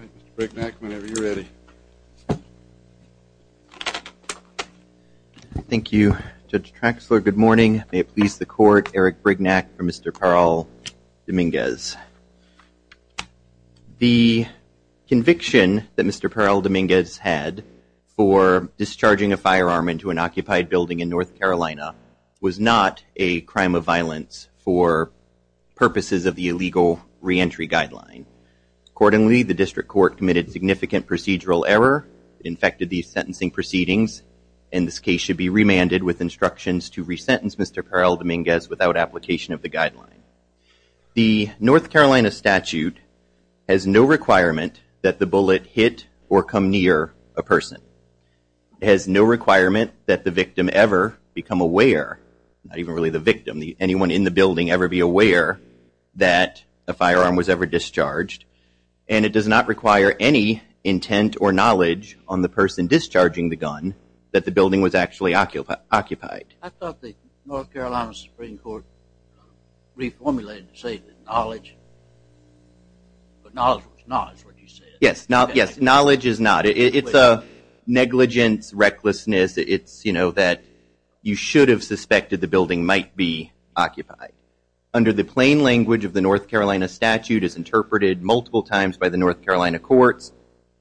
Mr. Brignac whenever you're ready. Thank you, Judge Traxler. Good morning. May it please the court, Eric Brignac for Mr. Parral-Dominguez. The conviction that Mr. Parral-Dominguez had for discharging a firearm into an occupied building in North Carolina was not a crime of violence for purposes of the illegal re-entry guideline. Accordingly, the district court committed significant procedural error, infected these sentencing proceedings, and this case should be remanded with instructions to resentence Mr. Parral-Dominguez without application of the guideline. The North Carolina statute has no requirement that the bullet hit or come near a person. It has no requirement that the victim ever become aware, not even really the victim, anyone in the building ever be aware that a firearm was ever discharged, and it does not require any intent or knowledge on the person discharging the gun that the building was actually occupied. I thought the North Carolina Supreme Court reformulated to say that knowledge, but knowledge was not is what you said. Yes, knowledge is not. It's a negligence, recklessness, it's you know that you should have suspected the building might be occupied. Under the plain language of the North Carolina statute as interpreted multiple times by the North Carolina courts,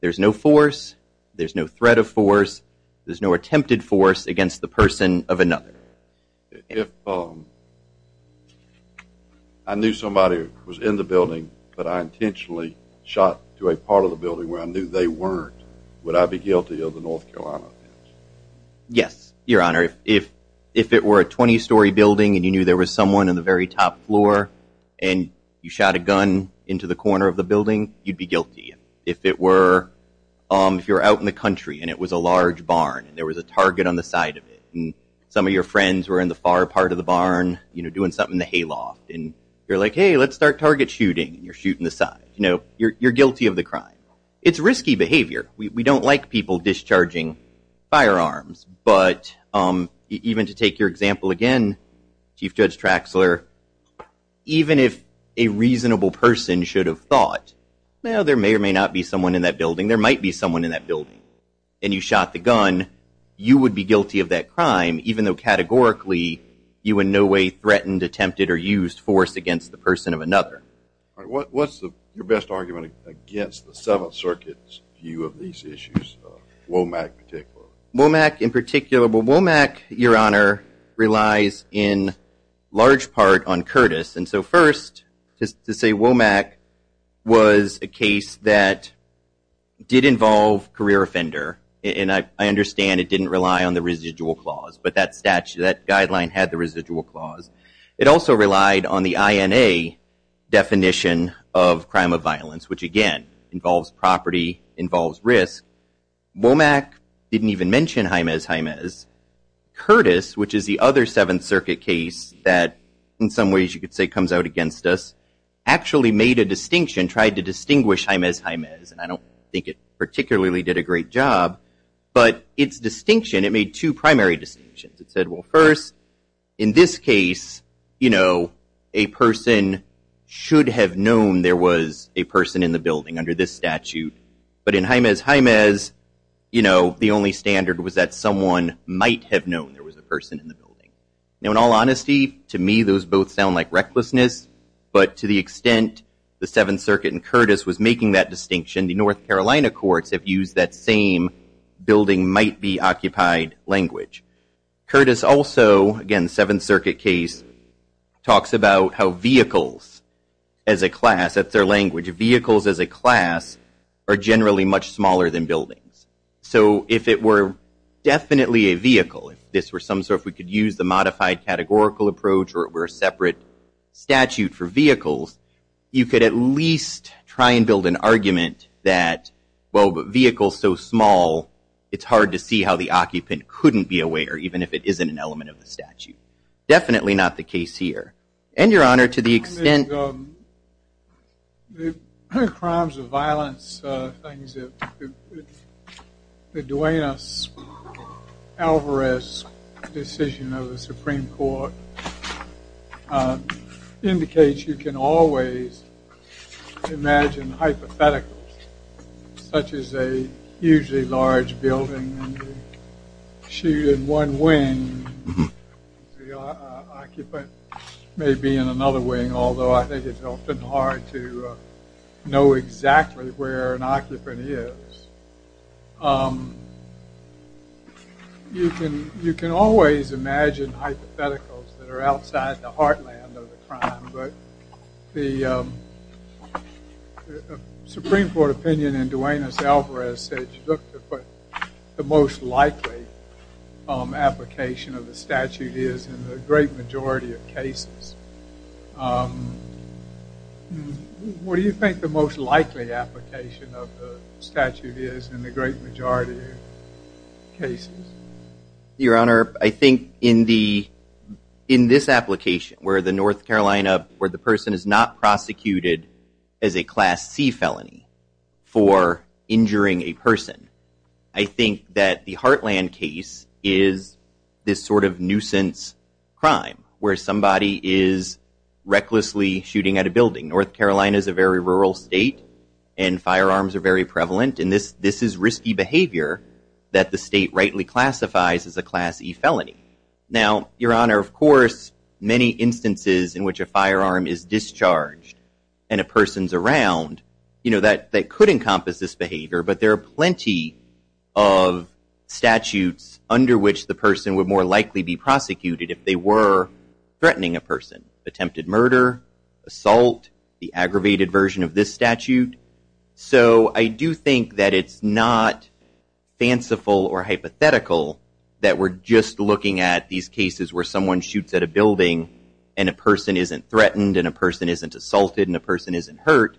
there's no force, there's no threat of force, there's no attempted force against the person of another. If I knew somebody was in the building, but I intentionally shot to a part of the building where I knew they weren't, would I be guilty of the North Carolina offense? Yes, your knew there was someone in the very top floor and you shot a gun into the corner of the building, you'd be guilty. If it were, if you're out in the country and it was a large barn and there was a target on the side of it and some of your friends were in the far part of the barn, you know, doing something in the hayloft and you're like, hey, let's start target shooting. You're shooting the side. You know, you're guilty of the crime. It's risky behavior. We don't like people discharging firearms, but even to take your example again, Chief Judge Traxler, even if a reasonable person should have thought, well, there may or may not be someone in that building, there might be someone in that building, and you shot the gun, you would be guilty of that crime, even though categorically you in no way threatened, attempted, or used force against the person of another. What's your best argument against the Seventh Circuit's view of these issues, WOMAC in particular? WOMAC in particular, well, WOMAC, Your Honor, relies in large part on Curtis. And so first, just to say WOMAC was a case that did involve career offender, and I understand it didn't rely on the residual clause, but that statute, that definition of crime of violence, which again, involves property, involves risk. WOMAC didn't even mention Jaimez Jaimez. Curtis, which is the other Seventh Circuit case that in some ways you could say comes out against us, actually made a distinction, tried to distinguish Jaimez Jaimez. I don't think it particularly did a great job, but its distinction, it made two primary distinctions. It said, well, first, in this case, you know, a person should have known there was a person in the building under this statute, but in Jaimez Jaimez, you know, the only standard was that someone might have known there was a person in the building. Now, in all honesty, to me those both sound like recklessness, but to the extent the Seventh Circuit and Curtis was making that distinction, the North Carolina courts have used that same building might be occupied language. Curtis also, again, Seventh Circuit case, talks about how vehicles as a class, that's their language, vehicles as a class are generally much smaller than buildings. So if it were definitely a vehicle, if this were some sort, if we could use the modified categorical approach or it were a separate statute for vehicles, you could at least try and build an argument that, well, but vehicles so small, it's hard to see how the occupant couldn't be aware, even if it isn't an element of the statute. Definitely not the case here. And, Your Honor, to the extent the crimes of violence, the Duenas-Alvarez decision of the Supreme Court indicates you can always imagine hypotheticals, such as a hugely large building and shoot in one wing, the occupant may be in another wing, although I think it's often hard to know exactly where an occupant is. You can always imagine hypotheticals that are outside the heartland of the crime, but the Supreme Court opinion in Duenas-Alvarez said the most likely application of the statute is in the great majority of cases. What do you think the most likely application of the statute is in the this application where the person is not prosecuted as a Class C felony for injuring a person? I think that the heartland case is this sort of nuisance crime where somebody is recklessly shooting at a building. North Carolina is a very rural state and firearms are very prevalent and this is risky behavior that the state rightly classifies as a Class E felony. Now, Your Honor, of course, many instances in which a firearm is discharged and a person's around, you know, that could encompass this behavior, but there are plenty of statutes under which the person would more likely be prosecuted if they were threatening a person, attempted murder, assault, the aggravated version of this statute. So I do think that it's not fanciful or hypothetical that we're just looking at these cases where someone shoots at a building and a person isn't threatened and a person isn't assaulted and a person isn't hurt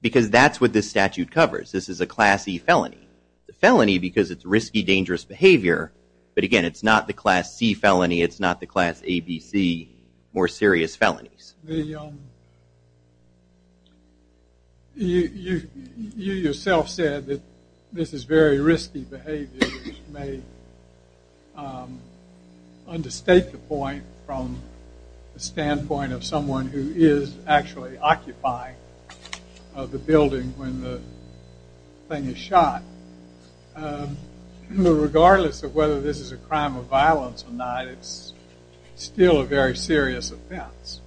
because that's what this statute covers. This is a Class E felony. The felony because it's risky, dangerous behavior, but again, it's not the Class C felony, it's not the Class A, B, C more serious felonies. You yourself said that this is very risky behavior, which may understate the point from the standpoint of someone who is actually occupying the building when the thing is shot. Regardless of whether this is a crime of violence or not, it's still a very serious offense.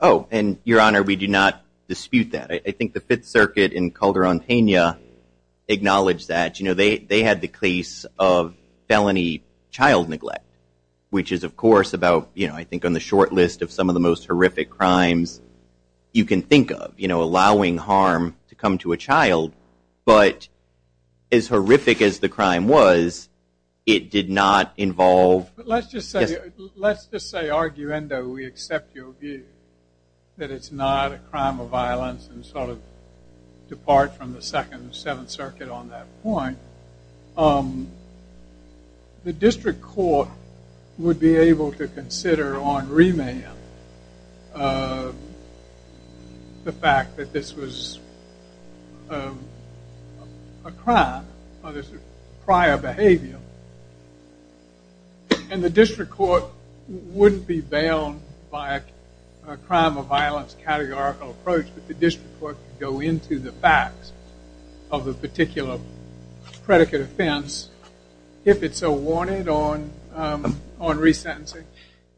Oh, and Your Honor, we do not dispute that. I think the Fifth Circuit in Calderontania acknowledged that. You know, they had the case of felony child neglect, which is, of course, about, you know, I think on the short list of some of the most horrific crimes you can think of, you know, allowing harm to come to a child, but as horrific as the crime was, it did not involve- But let's just say, let's just say, arguendo, we accept your view that it's not a crime of violence and sort of depart from the Second and Seventh Circuit on that point. The District Court would be able to consider on remand the fact that this was a crime of prior behavior, and the District Court wouldn't be bound by a crime of violence categorical approach, but the District Court could go into the facts of the particular predicate offense if it's so wanted on resentencing.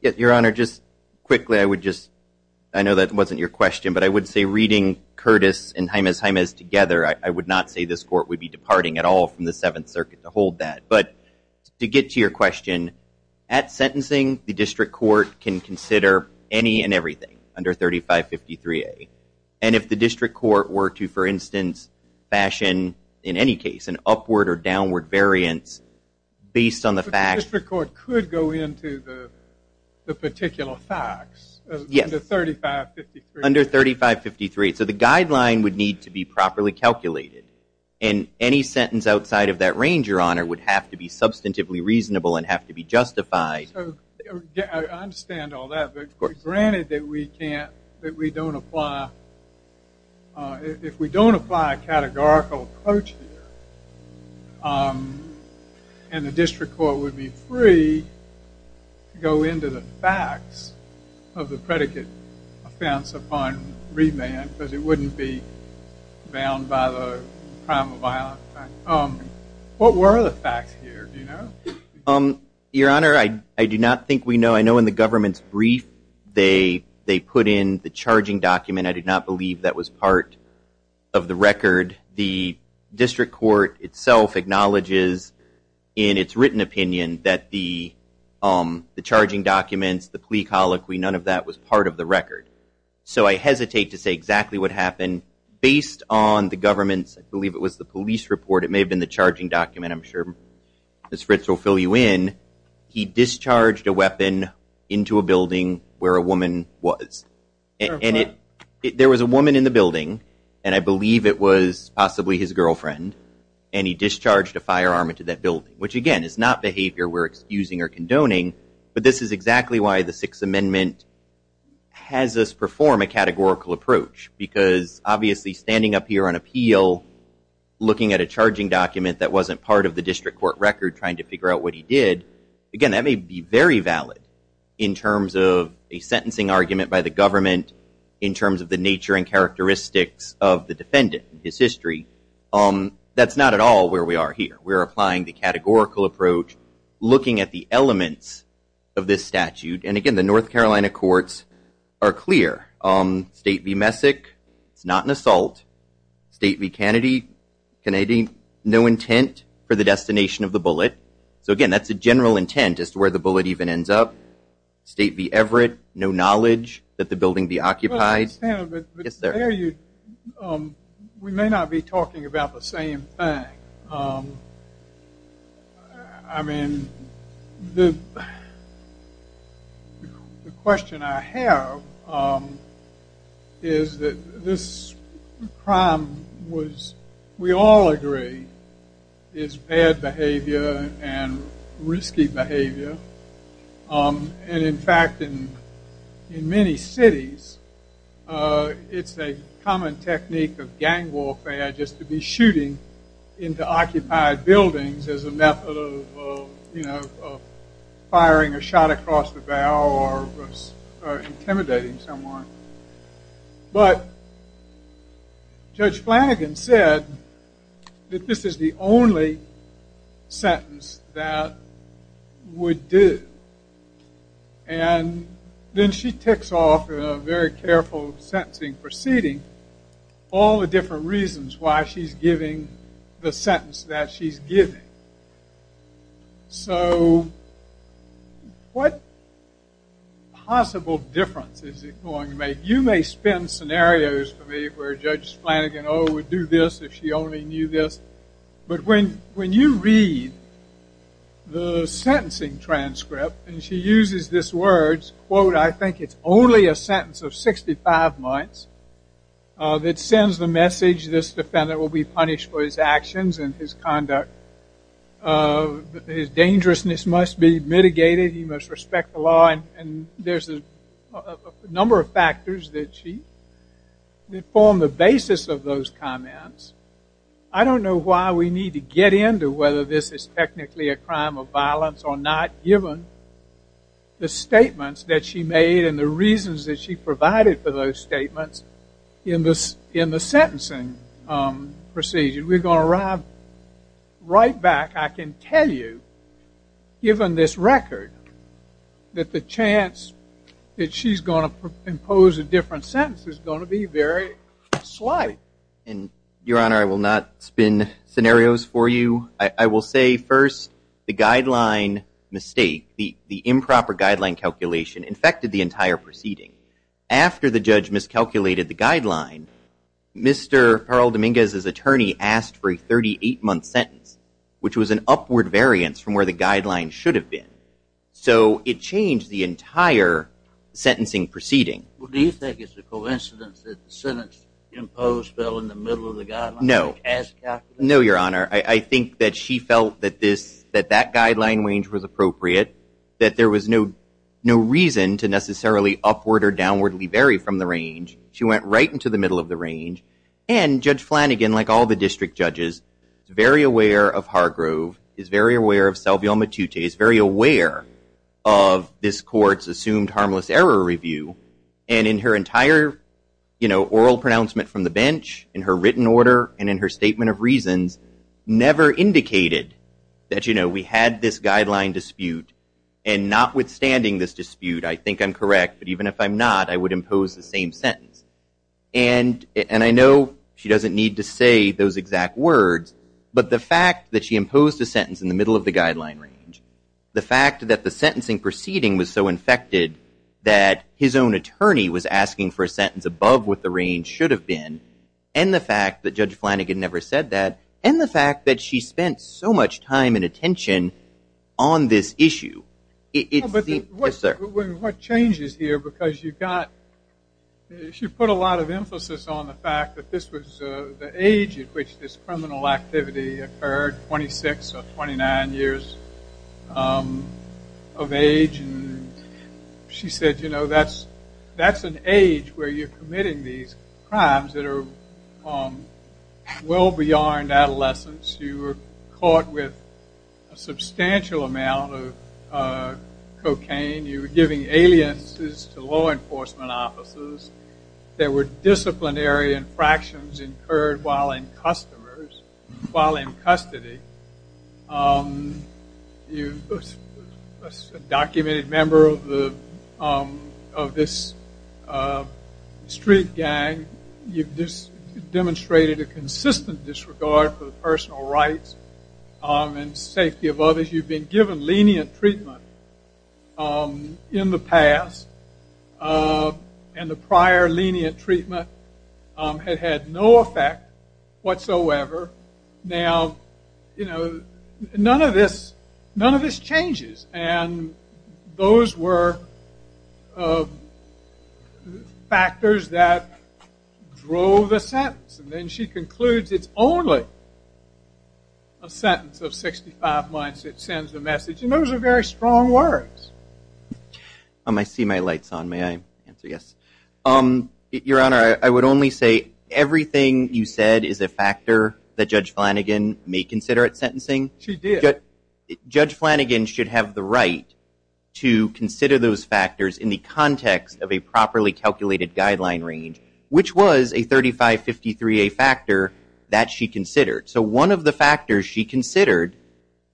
Yeah, Your Honor, just quickly, I would just, I know that wasn't your question, but I would say reading Curtis and Jaimez-Jaimez together, I would not say this Court would be departing at all from the Seventh Circuit to hold that, but to get to your question, at sentencing, the District Court can consider any and everything under 3553A, and if the District Court were to, for instance, fashion in any case an upward or downward variance based on the facts. But the District Court could go into the particular facts under 3553A. Under 3553A. So the guideline would need to be properly calculated, and any sentence outside of that range, Your Honor, would have to be substantively reasonable and have to be justified. I understand all that, but granted that we would be free, and the District Court would be free to go into the facts of the predicate offense upon remand, because it wouldn't be bound by the crime of violence. What were the facts here, do you know? Your Honor, I do not think we know. I know in the government's brief they put in the charging document. I did not believe that was part of the record. The District Court itself acknowledges in its written opinion that the charging documents, the plea colloquy, none of that was part of the record. So I hesitate to say exactly what happened. Based on the government's, I believe it was the police report, it may have been the charging document, I'm sure Ms. Fritz will fill you in, he discharged a weapon into a building where a woman was. There was a woman in the building, and I believe it was possibly his girlfriend, and he discharged a firearm into that building, which again is not behavior we're excusing or condoning, but this is exactly why the Sixth Amendment has us perform a categorical approach, because obviously standing up here on appeal, looking at a charging document that wasn't part of the District Court record trying to figure out what he did, again, that may be very valid in terms of a sentencing argument by the government, in terms of the nature and characteristics of the defendant and his history. That's not at all where we are here. We're applying the categorical approach, looking at the elements of this statute, and again, the North Carolina courts are clear. State v. Messick, it's not an assault. State v. Kennedy, no intent for the destination of the bullet. So again, that's a general intent as to where the bullet even ends up. State v. Everett, no knowledge that the building be occupied. Yes, sir. We may not be talking about the same thing. I mean, the question I have is that this crime was, we all agree, is bad behavior and risky behavior. And in fact, in many cities, it's a common technique of gang warfare just to be shooting into occupied buildings as a method of firing a shot across the bow or intimidating someone. But Judge Flanagan said that this is the only sentence that would do. And then she ticks off in a very careful sentencing proceeding all the different reasons why she's giving the sentence that she's giving. So what possible difference is it going to make? You may spin scenarios for me where Judge Flanagan, oh, would do this if she only knew this. But when you read the sentencing that sends the message, this defendant will be punished for his actions and his conduct. His dangerousness must be mitigated. He must respect the law. And there's a number of factors that she, that form the basis of those comments. I don't know why we need to get into whether this is technically a crime of violence or not, given the statements that she made and the reasons that she provided for those statements in the sentencing procedure. We're going to arrive right back. I can tell you, given this record, that the chance that she's going to impose a different sentence is going to be very slight. Your Honor, I will not spin scenarios for you. I will say, first, the guideline mistake, the improper guideline calculation, infected the entire proceeding. After the judge miscalculated the guideline, Mr. Pearl Dominguez's attorney asked for a 38-month sentence, which was an upward variance from where the guideline should have been. So it changed the entire sentencing proceeding. Well, do you think it's a coincidence that the sentence imposed fell in the middle of the guideline? No. As calculated? No, Your Honor. I think that she felt that this, that that guideline range was appropriate, that there was no reason to necessarily upward or downwardly vary from the range. She went right into the middle of the range. And Judge Flanagan, like all the district judges, is very aware of Hargrove, is very aware of Selvio Matute, is very aware of this court's assumed harmless error review. And in her entire oral pronouncement from the bench, in her written order, and in her statement of reasons, never indicated that we had this guideline dispute. And notwithstanding this dispute, I think I'm correct. But even if I'm not, I would impose the same sentence. And I know she doesn't need to say those exact words, but the fact that she imposed a sentence in the middle of the guideline range, the fact that the sentencing proceeding was so infected that his own attorney was asking for a sentence above what the range should have been, and the fact that Judge Flanagan never said that, and the fact that she spent so much time and attention on this issue. But what changes here, because you've got, she put a lot of emphasis on the fact that this was the age at which this criminal activity occurred, 26 or 29 years of age. And she said, you know, that's an age where you're committing these crimes that are well beyond adolescence. You were caught with a substantial amount of cocaine. You were giving aliences to law enforcement officers. There were disciplinary infractions incurred while in customers, while in custody. You were a documented member of this street gang. You've demonstrated a consistent disregard for the personal rights and safety of others. You've been given lenient treatment in the past. And the prior lenient treatment had had no effect whatsoever. Now, you know, none of this, none of this changes. And those were factors that drove the sentence. And then she concludes, it's only a sentence of 65 months that sends the message. And those are very strong words. I see my light's on. May I answer yes? Your Honor, I would only say everything you said is a factor that Judge Flanagan may consider at sentencing. She did. Judge Flanagan should have the right to consider those factors in the context of a properly I-53A factor that she considered. So one of the factors she considered,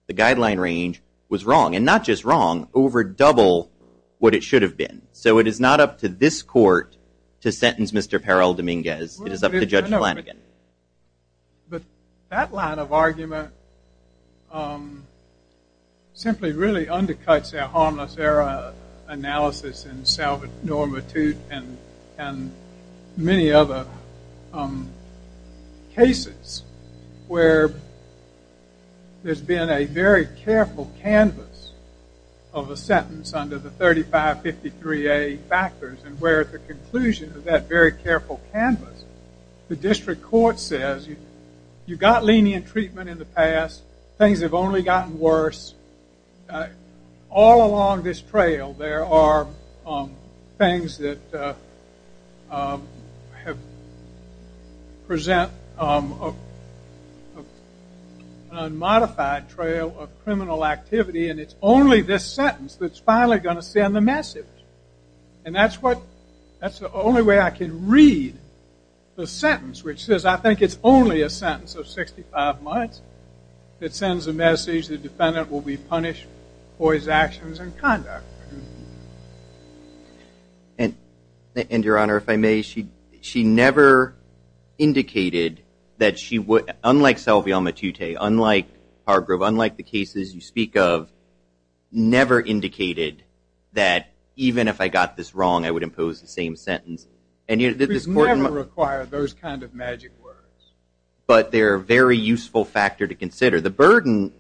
the guideline range, was wrong. And not just wrong, over double what it should have been. So it is not up to this court to sentence Mr. Perel Dominguez. It is up to Judge Flanagan. But that line of argument simply really undercuts our harmless error analysis and salvage normitude and many other cases where there's been a very careful canvas of a sentence under the I-3553A factors. And where at the conclusion of that very careful canvas, the district court says, you've got lenient treatment in the past. Things have only gotten worse. All along this trail, there are things that have present an unmodified trail of criminal activity. And it's only this sentence that's finally going to send the message. And that's the only way I can read the sentence, which says, I think it's only a sentence of 65 months that sends a message the defendant will be And Your Honor, if I may, she never indicated that she would, unlike Selvia Matute, unlike Hargrove, unlike the cases you speak of, never indicated that even if I got this wrong, I would impose the same sentence. And yet this court We've never required those kind of magic words. But they're a very useful factor to consider. The burden,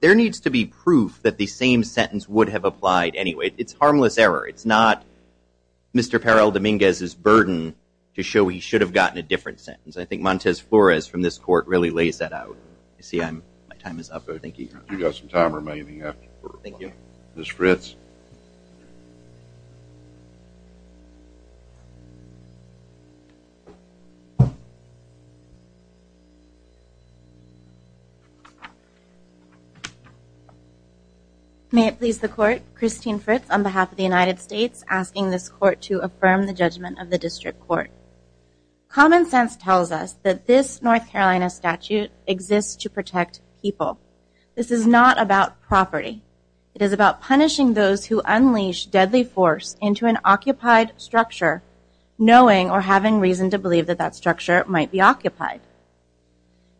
there needs to be proof that the same It's harmless error. It's not Mr. Perel Dominguez's burden to show he should have gotten a different sentence. I think Montez Flores from this court really lays that out. I see my time is up. Thank you, Your Honor. You've got some time remaining. Thank you. Ms. Fritz. May it please the court. Christine Fritz on behalf of the United States asking this court to affirm the judgment of the district court. Common sense tells us that this North Carolina statute exists to protect people. This is not about property. It is about punishing those who unleash deadly force into an occupied structure, knowing or having reason to believe that that structure might be occupied.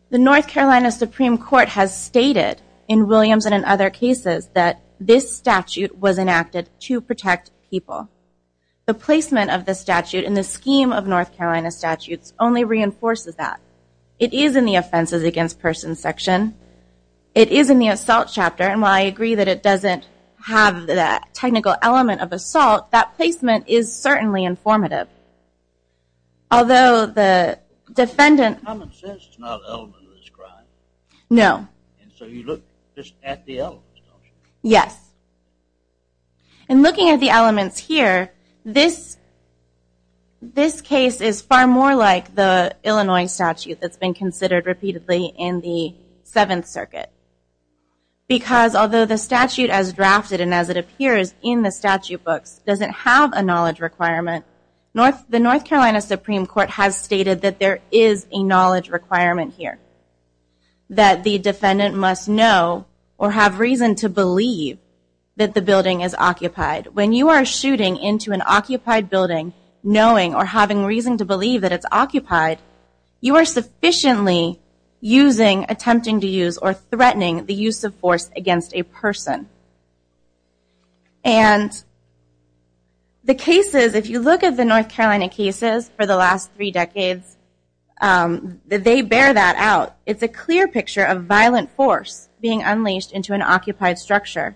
The North Carolina Supreme Court has stated in Williams and in other cases that this statute was enacted to protect people. The placement of the statute in the scheme of North Carolina statutes only reinforces that. It is in the offenses against persons section. It is in the assault chapter, and while I agree that it doesn't have that technical element of assault, that placement is certainly informative. Although the defendant... Common sense is not an element of this crime. No. So you look just at the elements, don't you? Yes. In looking at the elements here, this case is far more like the Illinois statute that's been considered repeatedly in the Seventh Circuit. Because although the statute as drafted and as it appears in the statute books doesn't have a knowledge requirement, the North Carolina Supreme Court has stated that there is a knowledge requirement here. That the defendant must know or have reason to believe that the building is occupied. When you are shooting into an occupied building, knowing or having reason to believe that it's occupied, you are sufficiently using, attempting to use, or threatening the use of force against a person. And the cases, if you look at the North Carolina cases for the last three decades, they bear that out. It's a clear picture of violent force being unleashed into an occupied structure.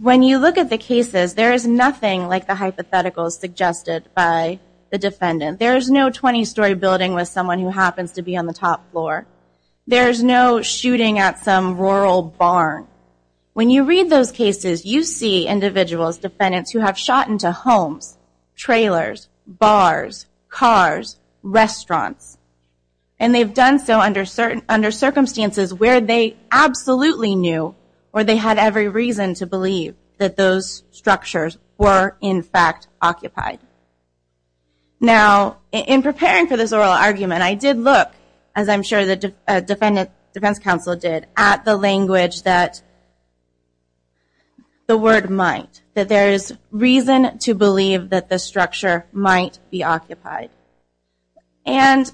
When you look at the cases, there is nothing like the hypotheticals suggested by the defendant. There is no 20-story building with someone who happens to be on the top floor. There is no shooting at some rural barn. When you read those cases, you see individuals, defendants, who have shot into homes, trailers, bars, cars, restaurants. And they've done so under circumstances where they absolutely knew or they had every reason to believe that those structures were, in fact, occupied. Now, in preparing for this oral argument, I did look, as I'm sure the defense counsel did, at the language that the word might, that there is reason to believe that the structure might be occupied. And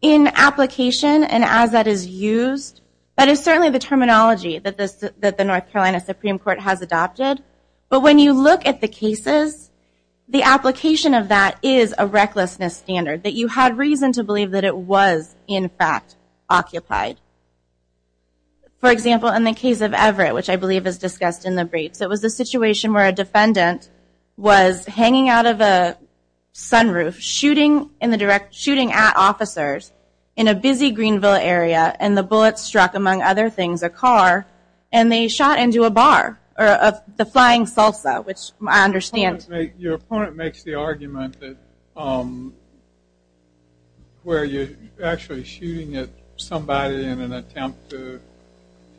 in application, and as that is used, that is certainly the terminology that the North Carolina Supreme Court has adopted. But when you look at the cases, the application of that is a recklessness standard, that you had reason to believe that it was, in fact, occupied. For example, in the case of Everett, which I believe is discussed in the briefs, it was a situation where a defendant was hanging out of a sunroof shooting at officers in a busy Greenville area. And the bullet struck, among other things, a car. And they shot into a bar, or the Flying Salsa, which I understand. Your opponent makes the argument that where you're actually shooting at somebody in an attempt to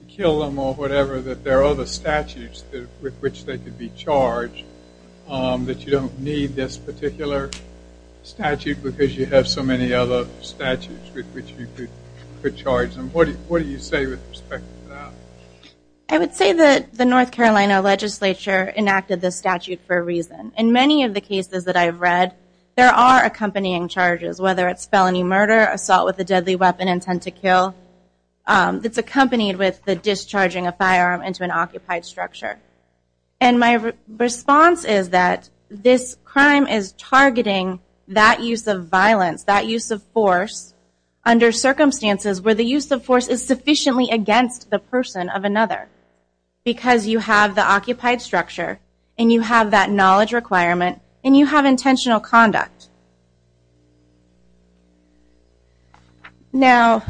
kill them or whatever, that there are other statutes with which they could be charged, that you don't need this particular statute because you have so many other statutes with which you could charge them. What do you say with respect to that? I would say that the North Carolina legislature enacted this statute for a reason. In many of the cases that I've read, there are accompanying charges, whether it's felony murder, assault with a deadly weapon, intent to kill. It's accompanied with the discharging of a firearm into an occupied structure. And my response is that this crime is targeting that use of violence, that use of force, under circumstances where the use of force is sufficiently against the person of another. Because you have the occupied structure, and you have that knowledge requirement, and you have intentional conduct. Now,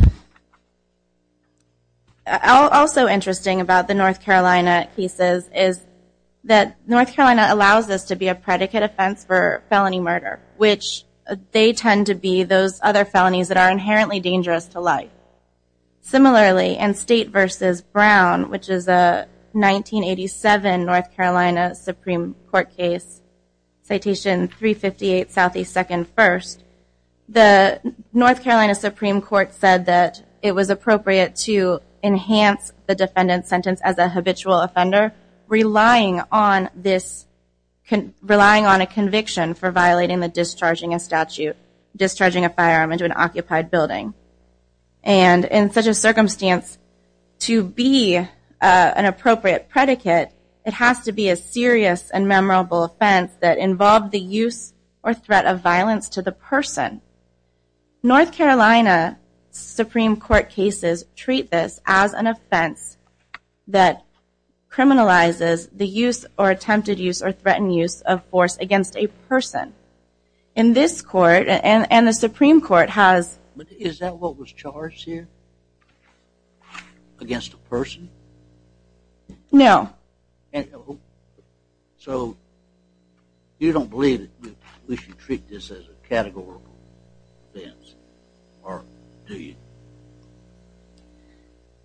also interesting about the North Carolina cases is that North Carolina allows this to be a predicate offense for felony murder, which they tend to be those other felonies that are inherently dangerous to life. Similarly, in State v. Brown, which is a 1987 North Carolina Supreme Court case, Citation 358, Southeast Second First, the North Carolina Supreme Court said that it was appropriate to enhance the defendant's sentence as a habitual offender, relying on a conviction for violating the discharging of statute, discharging a firearm into an occupied building. And in such a circumstance, to be an appropriate predicate, it has to be a serious and memorable offense that involved the use or threat of violence to the person. North Carolina Supreme Court cases treat this as an offense that criminalizes the use or attempted use or threatened use of force against a person. In this court, and the Supreme Court has... Is that what was charged here? Against a person? No. So, you don't believe that we should treat this as a categorical offense? Or do you?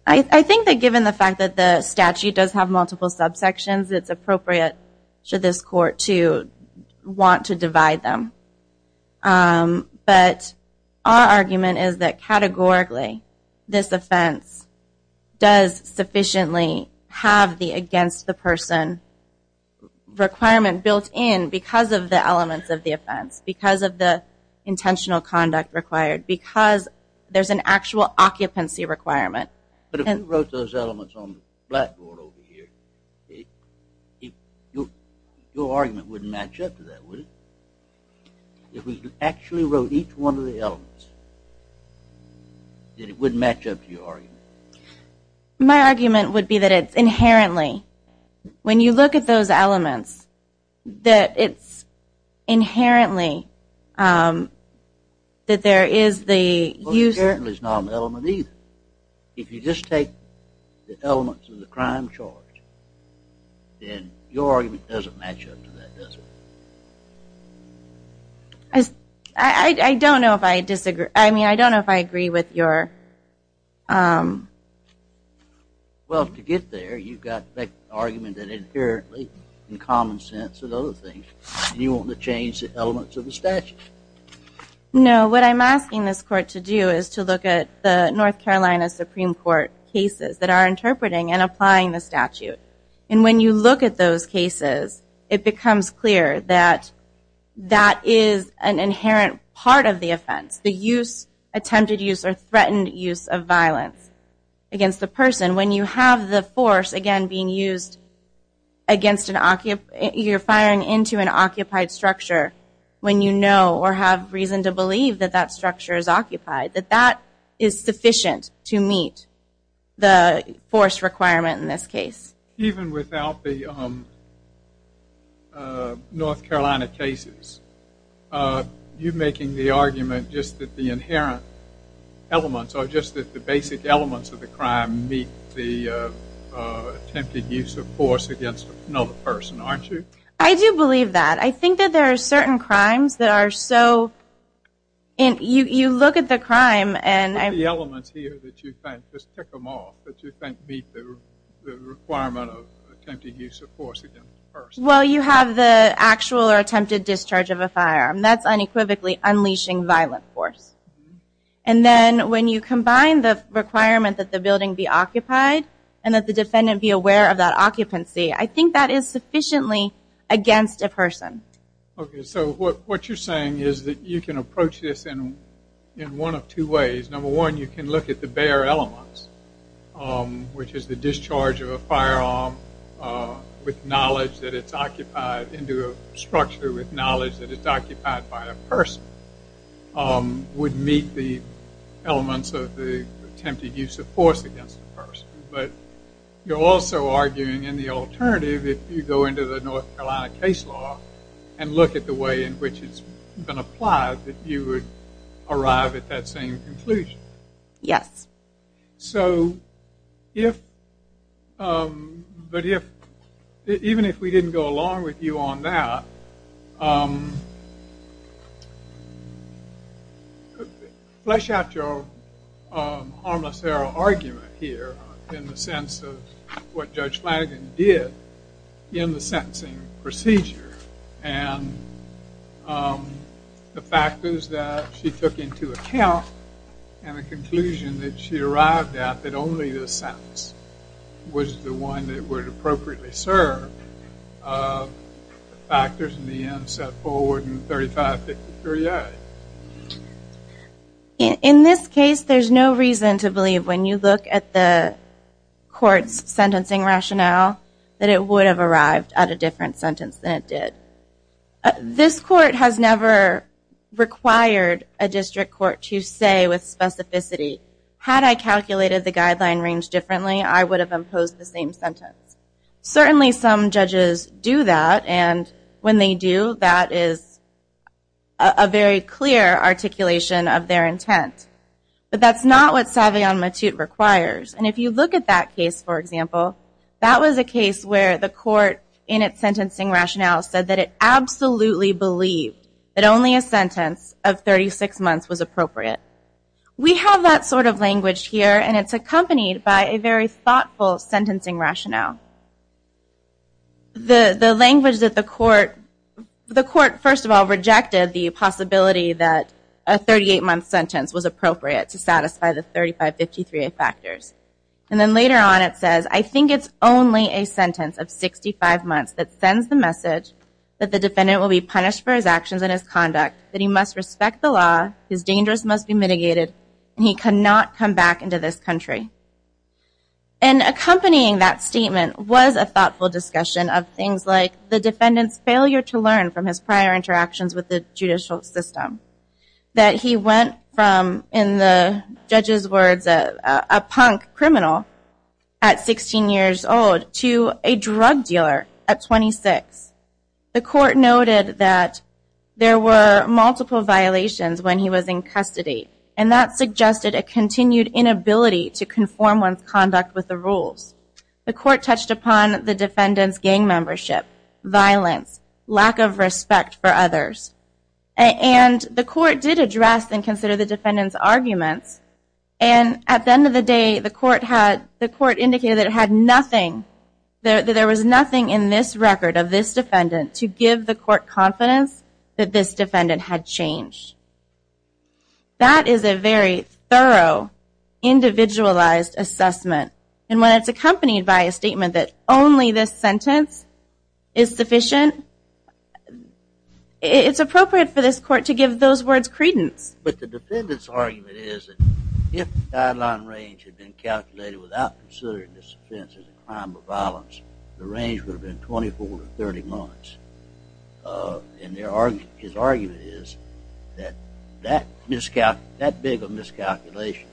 I think that given the fact that the statute does have multiple subsections, it's appropriate to this court to want to divide them. But our argument is that categorically, this offense does sufficiently have the against the person requirement built in because of the elements of the offense, because of the intentional conduct required, because there's an actual occupancy requirement. But if you wrote those elements on the blackboard over here, your argument wouldn't match up to that, would it? If we actually wrote each one of the elements, it wouldn't match up to your argument? My argument would be that it's inherently, when you look at those elements, that it's inherently that there is the user... Well, inherently is not an element either. If you just take the elements of the crime charge, then your argument doesn't match up to that, does it? I don't know if I disagree. I mean, I don't know if I agree with your... Well, to get there, you've got the argument that inherently, in common sense and other things, you want to change the elements of the statute. No, what I'm asking this court to do is to look at the North Carolina Supreme Court cases that are interpreting and applying the statute. And when you look at those cases, it becomes clear that that is an inherent part of the offense, the use, attempted use, or threatened use of violence against the person. When you have the force, again, being used against an occupant, you're firing into an occupied structure when you know or have reason to believe that that structure is occupied, that that is sufficient to meet the force requirement in this case. Even without the North Carolina cases, you're making the argument just that the inherent elements or just that the basic elements of the crime meet the attempted use of force against another person, aren't you? I do believe that. I think that there are certain crimes that are so... You look at the crime and... What are the elements here that you think, just tick them off, that you think meet the requirement of attempted use of force against a person? Well, you have the actual or attempted discharge of a firearm. That's unequivocally unleashing violent force. And then when you combine the requirement that the building be occupied and that the defendant be aware of that occupancy, I think that is sufficiently against a person. Okay, so what you're saying is that you can approach this in one of two ways. Number one, you can look at the bare elements, which is the discharge of a firearm with knowledge that it's occupied into a structure with knowledge that it's occupied by a person. Would meet the elements of the attempted use of force against a person. But you're also arguing in the alternative if you go into the North Carolina case law and look at the way in which it's been applied that you would arrive at that same conclusion. Yes. So, if... But if... Even if we didn't go along with you on that... Flesh out your harmless error argument here in the sense of what Judge Flanagan did in the sentencing procedure and the factors that she took into account and the conclusion that she arrived at that only this sentence was the one that would appropriately serve the factors in the end set forward in 3563A. In this case, there's no reason to believe when you look at the court's sentencing rationale that it would have arrived at a different sentence than it did. This court has never required a district court to say with specificity, had I calculated the guideline range differently, I would have imposed the same sentence. Certainly some judges do that, and when they do, that is a very clear articulation of their intent. But that's not what Savion Matute requires. And if you look at that case, for example, that was a case where the court, in its sentencing rationale, said that it absolutely believed that only a sentence of 36 months was appropriate. We have that sort of language here, and it's accompanied by a very thoughtful sentencing rationale. The language that the court... The court, first of all, rejected the possibility that a 38-month sentence was appropriate to satisfy the 3553A factors. And then later on it says, I think it's only a sentence of 65 months that sends the message that the defendant will be punished for his actions and his conduct, that he must respect the law, his dangers must be mitigated, and he cannot come back into this country. And accompanying that statement was a thoughtful discussion of things like the defendant's failure to learn from his prior interactions with the judicial system, that he went from, in the judge's words, a punk criminal at 16 years old to a drug dealer at 26. The court noted that there were multiple violations when he was in custody, and that suggested a continued inability to conform one's conduct with the rules. The court touched upon the defendant's gang membership, violence, lack of respect for others. And the court did address and consider the defendant's arguments, and at the end of the day, the court indicated that it had nothing, that there was nothing in this record of this defendant to give the court confidence that this defendant had changed. That is a very thorough, individualized assessment. And when it's accompanied by a statement that only this sentence is sufficient, it's appropriate for this court to give those words credence. But the defendant's argument is that if the guideline range had been calculated without considering this offense as a crime of violence, the range would have been 24 to 30 months. And his argument is that that big of a miscalculation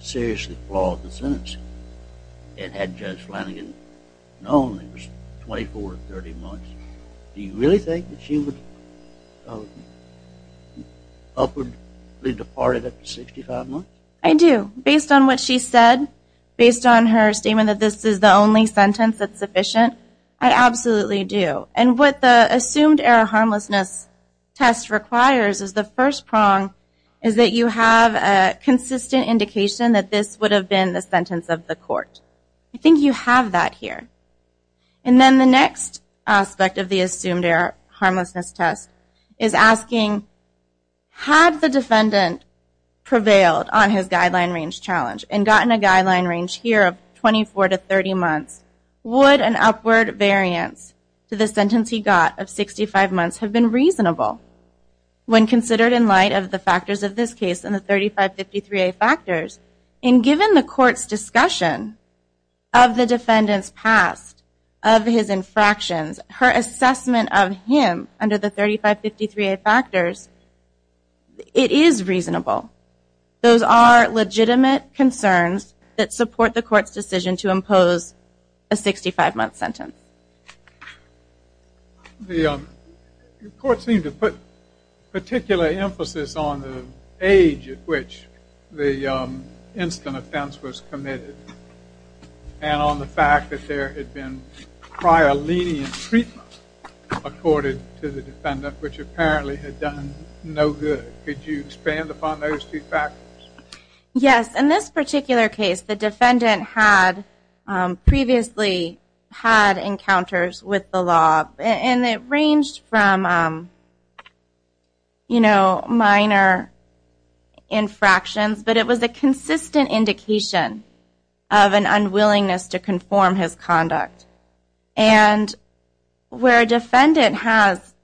seriously flawed the sentence. And had Judge Flanagan known that it was 24 to 30 months, do you really think that she would upwardly depart it at 65 months? I do. Based on what she said, based on her statement that this is the only sentence that's sufficient, I absolutely do. And what the assumed error harmlessness test requires is the first prong is that you have a consistent indication that this would have been the sentence of the court. I think you have that here. And then the next aspect of the assumed error harmlessness test is asking, had the defendant prevailed on his guideline range challenge and gotten a guideline range here of 24 to 30 months, would an upward variance to the sentence he got of 65 months have been reasonable? When considered in light of the factors of this case and the 3553A factors, and given the court's discussion of the defendant's past, of his infractions, her assessment of him under the 3553A factors, it is reasonable. Those are legitimate concerns that support the court's decision to impose a 65-month sentence. The court seemed to put particular emphasis on the age at which the instant offense was committed and on the fact that there had been prior lenient treatment accorded to the defendant, which apparently had done no good. Could you expand upon those two factors? Yes, in this particular case, the defendant had previously had encounters with the law, and it ranged from minor infractions, but it was a consistent indication of an unwillingness to conform his conduct. And where a defendant has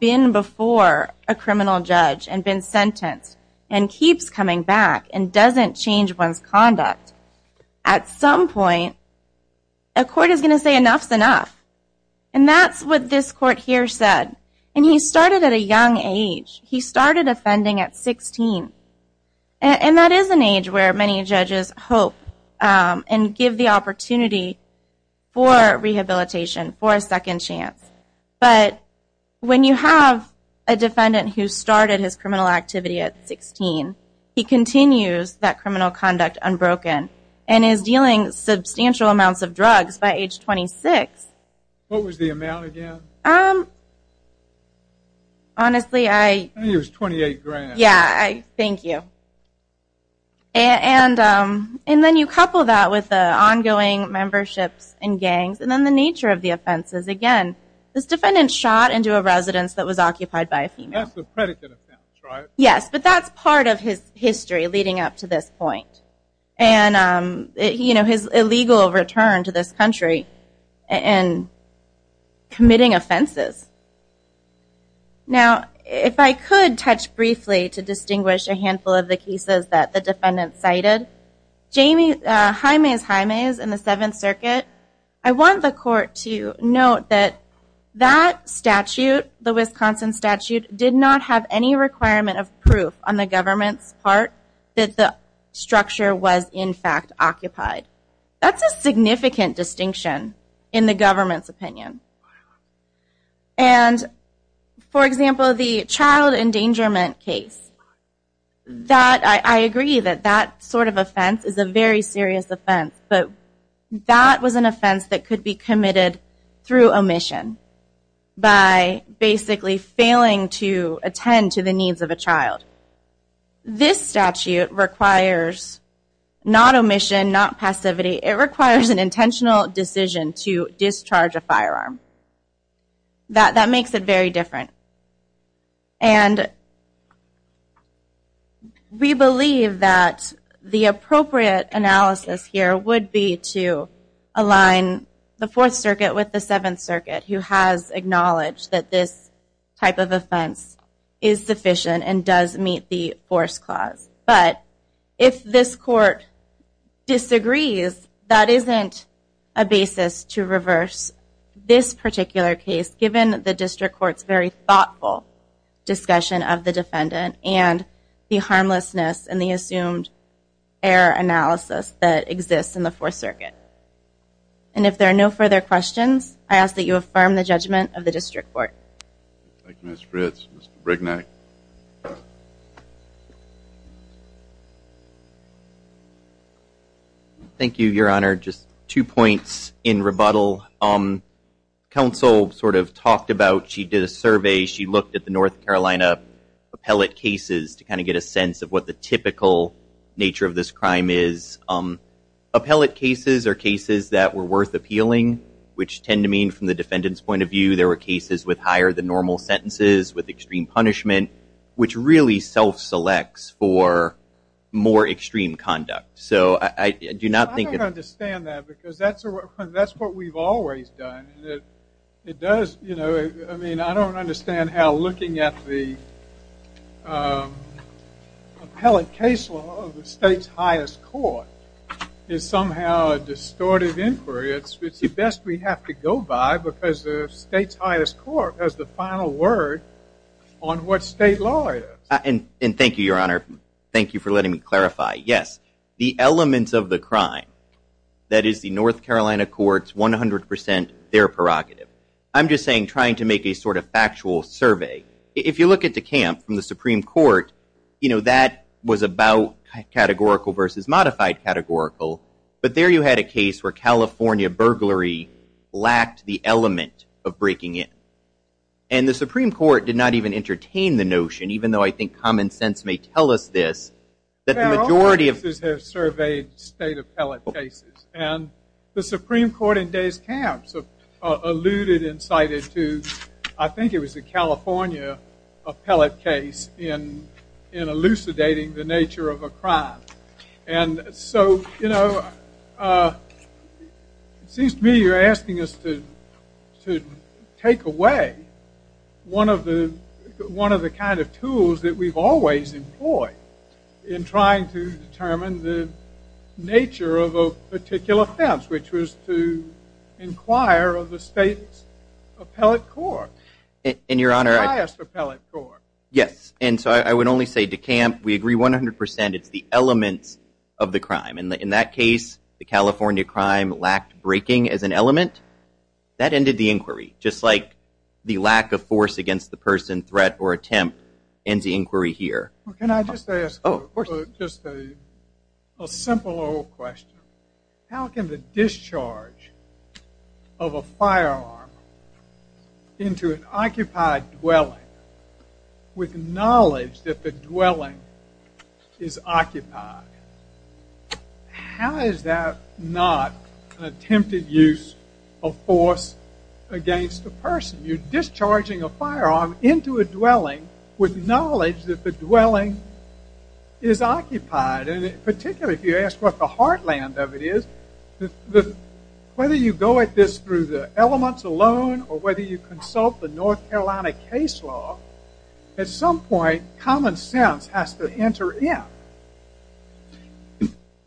been before a criminal judge and been sentenced and keeps coming back and doesn't change one's conduct, at some point, a court is going to say, enough's enough. And that's what this court here said. And he started at a young age. He started offending at 16. And that is an age where many judges for rehabilitation, for a second chance. But when you have a defendant who started his criminal activity at 16, he continues that criminal conduct unbroken and is dealing substantial amounts of drugs by age 26. What was the amount again? Honestly, I... I think it was 28 grand. Yeah, thank you. And then you couple that with the ongoing memberships and gangs and then the nature of the offenses again. This defendant shot into a residence that was occupied by a female. That's a predicate offense, right? Yes, but that's part of his history leading up to this point. And his illegal return to this country and committing offenses. Now, if I could touch briefly to distinguish a handful of the cases that the defendant cited. Jaime's Jaime's in the Seventh Circuit. I want the court to note that that statute, the Wisconsin statute, did not have any requirement of proof on the government's part that the structure was in fact occupied. That's a significant distinction in the government's opinion. And for example, the child endangerment case. That, I agree that that sort of offense is a very serious offense, but that was an offense that could be committed through omission. By basically failing to attend to the needs of a child. This statute requires not omission, not passivity. It requires an intentional decision to discharge a firearm. That makes it very different. And we believe that the appropriate analysis here would be to align the Fourth Circuit with the Seventh Circuit, who has acknowledged that this type of offense is sufficient and does meet the Force Clause. But, if this court disagrees, that isn't a basis to reverse this particular case, given the District Court's very thoughtful discussion of the defendant and the harmlessness and the assumed error analysis that exists in the Fourth Circuit. And if there are no further questions, I ask that you affirm the judgment of the District Court. Thank you, Ms. Fritz. Mr. Brignac. Thank you, Your Honor. Just two points in rebuttal. Counsel sort of talked about, she did a survey, she looked at the North Carolina appellate cases to kind of get a sense of what the typical nature of this crime is. Appellate cases are cases that were worth appealing, which tend to mean, from the defendant's point of view, there were cases with higher than normal sentences, with extreme punishment, which really self-selects for more extreme conduct. So, I do not think... I don't understand that, because that's what we've always done. It does, you know... I mean, I don't understand how looking at the appellate case law of the state's highest court is somehow a distorted inquiry. It's the best we have to go by, because the state's highest court has the final word on what state law is. And thank you, Your Honor. Thank you for letting me clarify. Yes, the elements of the crime, that is the North Carolina court's 100% their prerogative. I'm just saying, trying to make a sort of factual survey. If you look at the camp from the Supreme Court, you know, that was about categorical versus modified categorical. But there you had a case where California burglary lacked the element of breaking it. And the Supreme Court did not even entertain the notion, even though I think common sense may tell us this, that the majority of... There are other cases that have surveyed state appellate cases. And the Supreme Court in Day's Camp alluded and cited to, I think it was the California appellate case in elucidating the nature of a crime. And so, you know, it seems to me you're asking us to take away one of the kind of tools that we've always employed in trying to determine the nature of a particular offense, which was to inquire of the state's appellate court. In your honor... The highest appellate court. Yes. And so I would only say to Camp, we agree 100%. It's the elements of the crime. In that case, the California crime lacked breaking as an element. That ended the inquiry. Just like the lack of force against the person, threat, or attempt ends the inquiry here. Can I just ask you just a simple old question. How can the discharge of a firearm into an occupied dwelling with knowledge that the dwelling is occupied? How is that not an attempted use of force against a person? You're discharging a firearm into a dwelling with knowledge that the dwelling is occupied. And particularly if you ask what the heartland of it is, whether you go at this through the elements alone, or whether you consult the North Carolina case law, at some point, common sense has to enter in.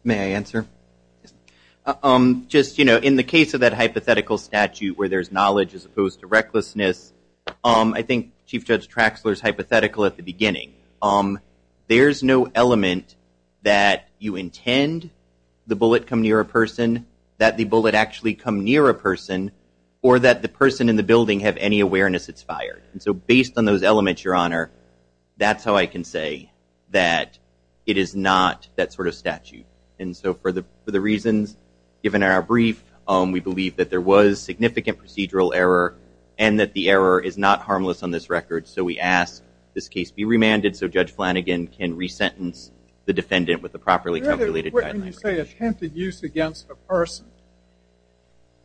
May I answer? Just, you know, in the case of that hypothetical statute where there's knowledge as opposed to recklessness, I think Chief Judge Traxler's hypothetical at the beginning. There's no element that you intend the bullet come near a person that the bullet actually come near a person or that the person in the building have any awareness it's fired. And so based on those elements, Your Honor, that's how I can say that it is not that sort of statute. And so for the reasons given in our brief, we believe that there was significant procedural error and that the error is not harmless on this record. So we ask this case be remanded so Judge Flanagan can re-sentence the defendant with the properly calculated guidelines. When you say attempted use against a person,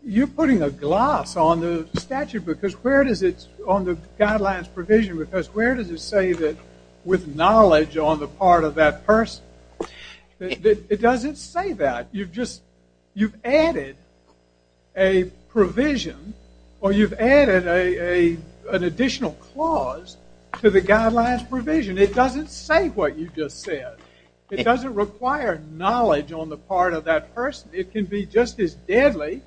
you're putting a gloss on the statute because where does it, on the guidelines provision, because where does it say that with knowledge on the part of that person? It doesn't say that. You've just, you've added a provision or you've added an additional clause to the guidelines provision. It doesn't say what you just said. It doesn't require knowledge on the part of that person. It can be just as deadly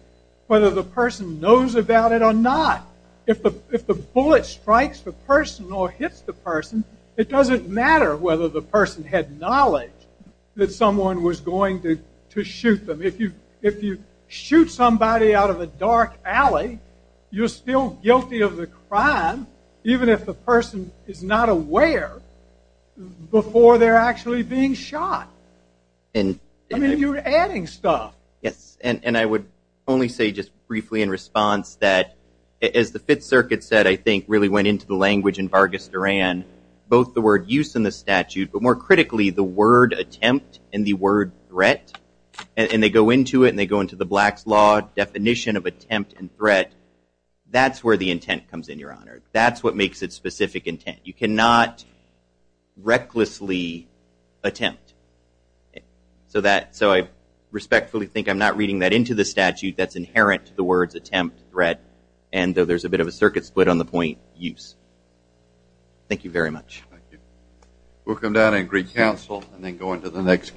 whether the person knows about it or not. If the bullet strikes the person or hits the person, it doesn't matter whether the person had knowledge that someone was going to shoot them. If you shoot somebody out of a dark alley, you're still guilty of the crime even if the person is not aware before they're actually being shot. I mean, you're adding stuff. Yes, and I would only say just briefly in response that as the Fifth Circuit said, I think really went into the language in Vargas Duran, both the word use in the statute but more critically the word attempt and the word threat and they go into it and they go into the Black's Law definition of attempt and threat. That's where the intent comes in, Your Honor. That's what makes it specific intent. You cannot recklessly attempt. So I respectfully think I'm not reading that into the statute that's inherent to the words attempt, threat, and though there's a bit of a circuit split on the point, use. Thank you very much. Thank you. We'll come down and agree counsel and then go into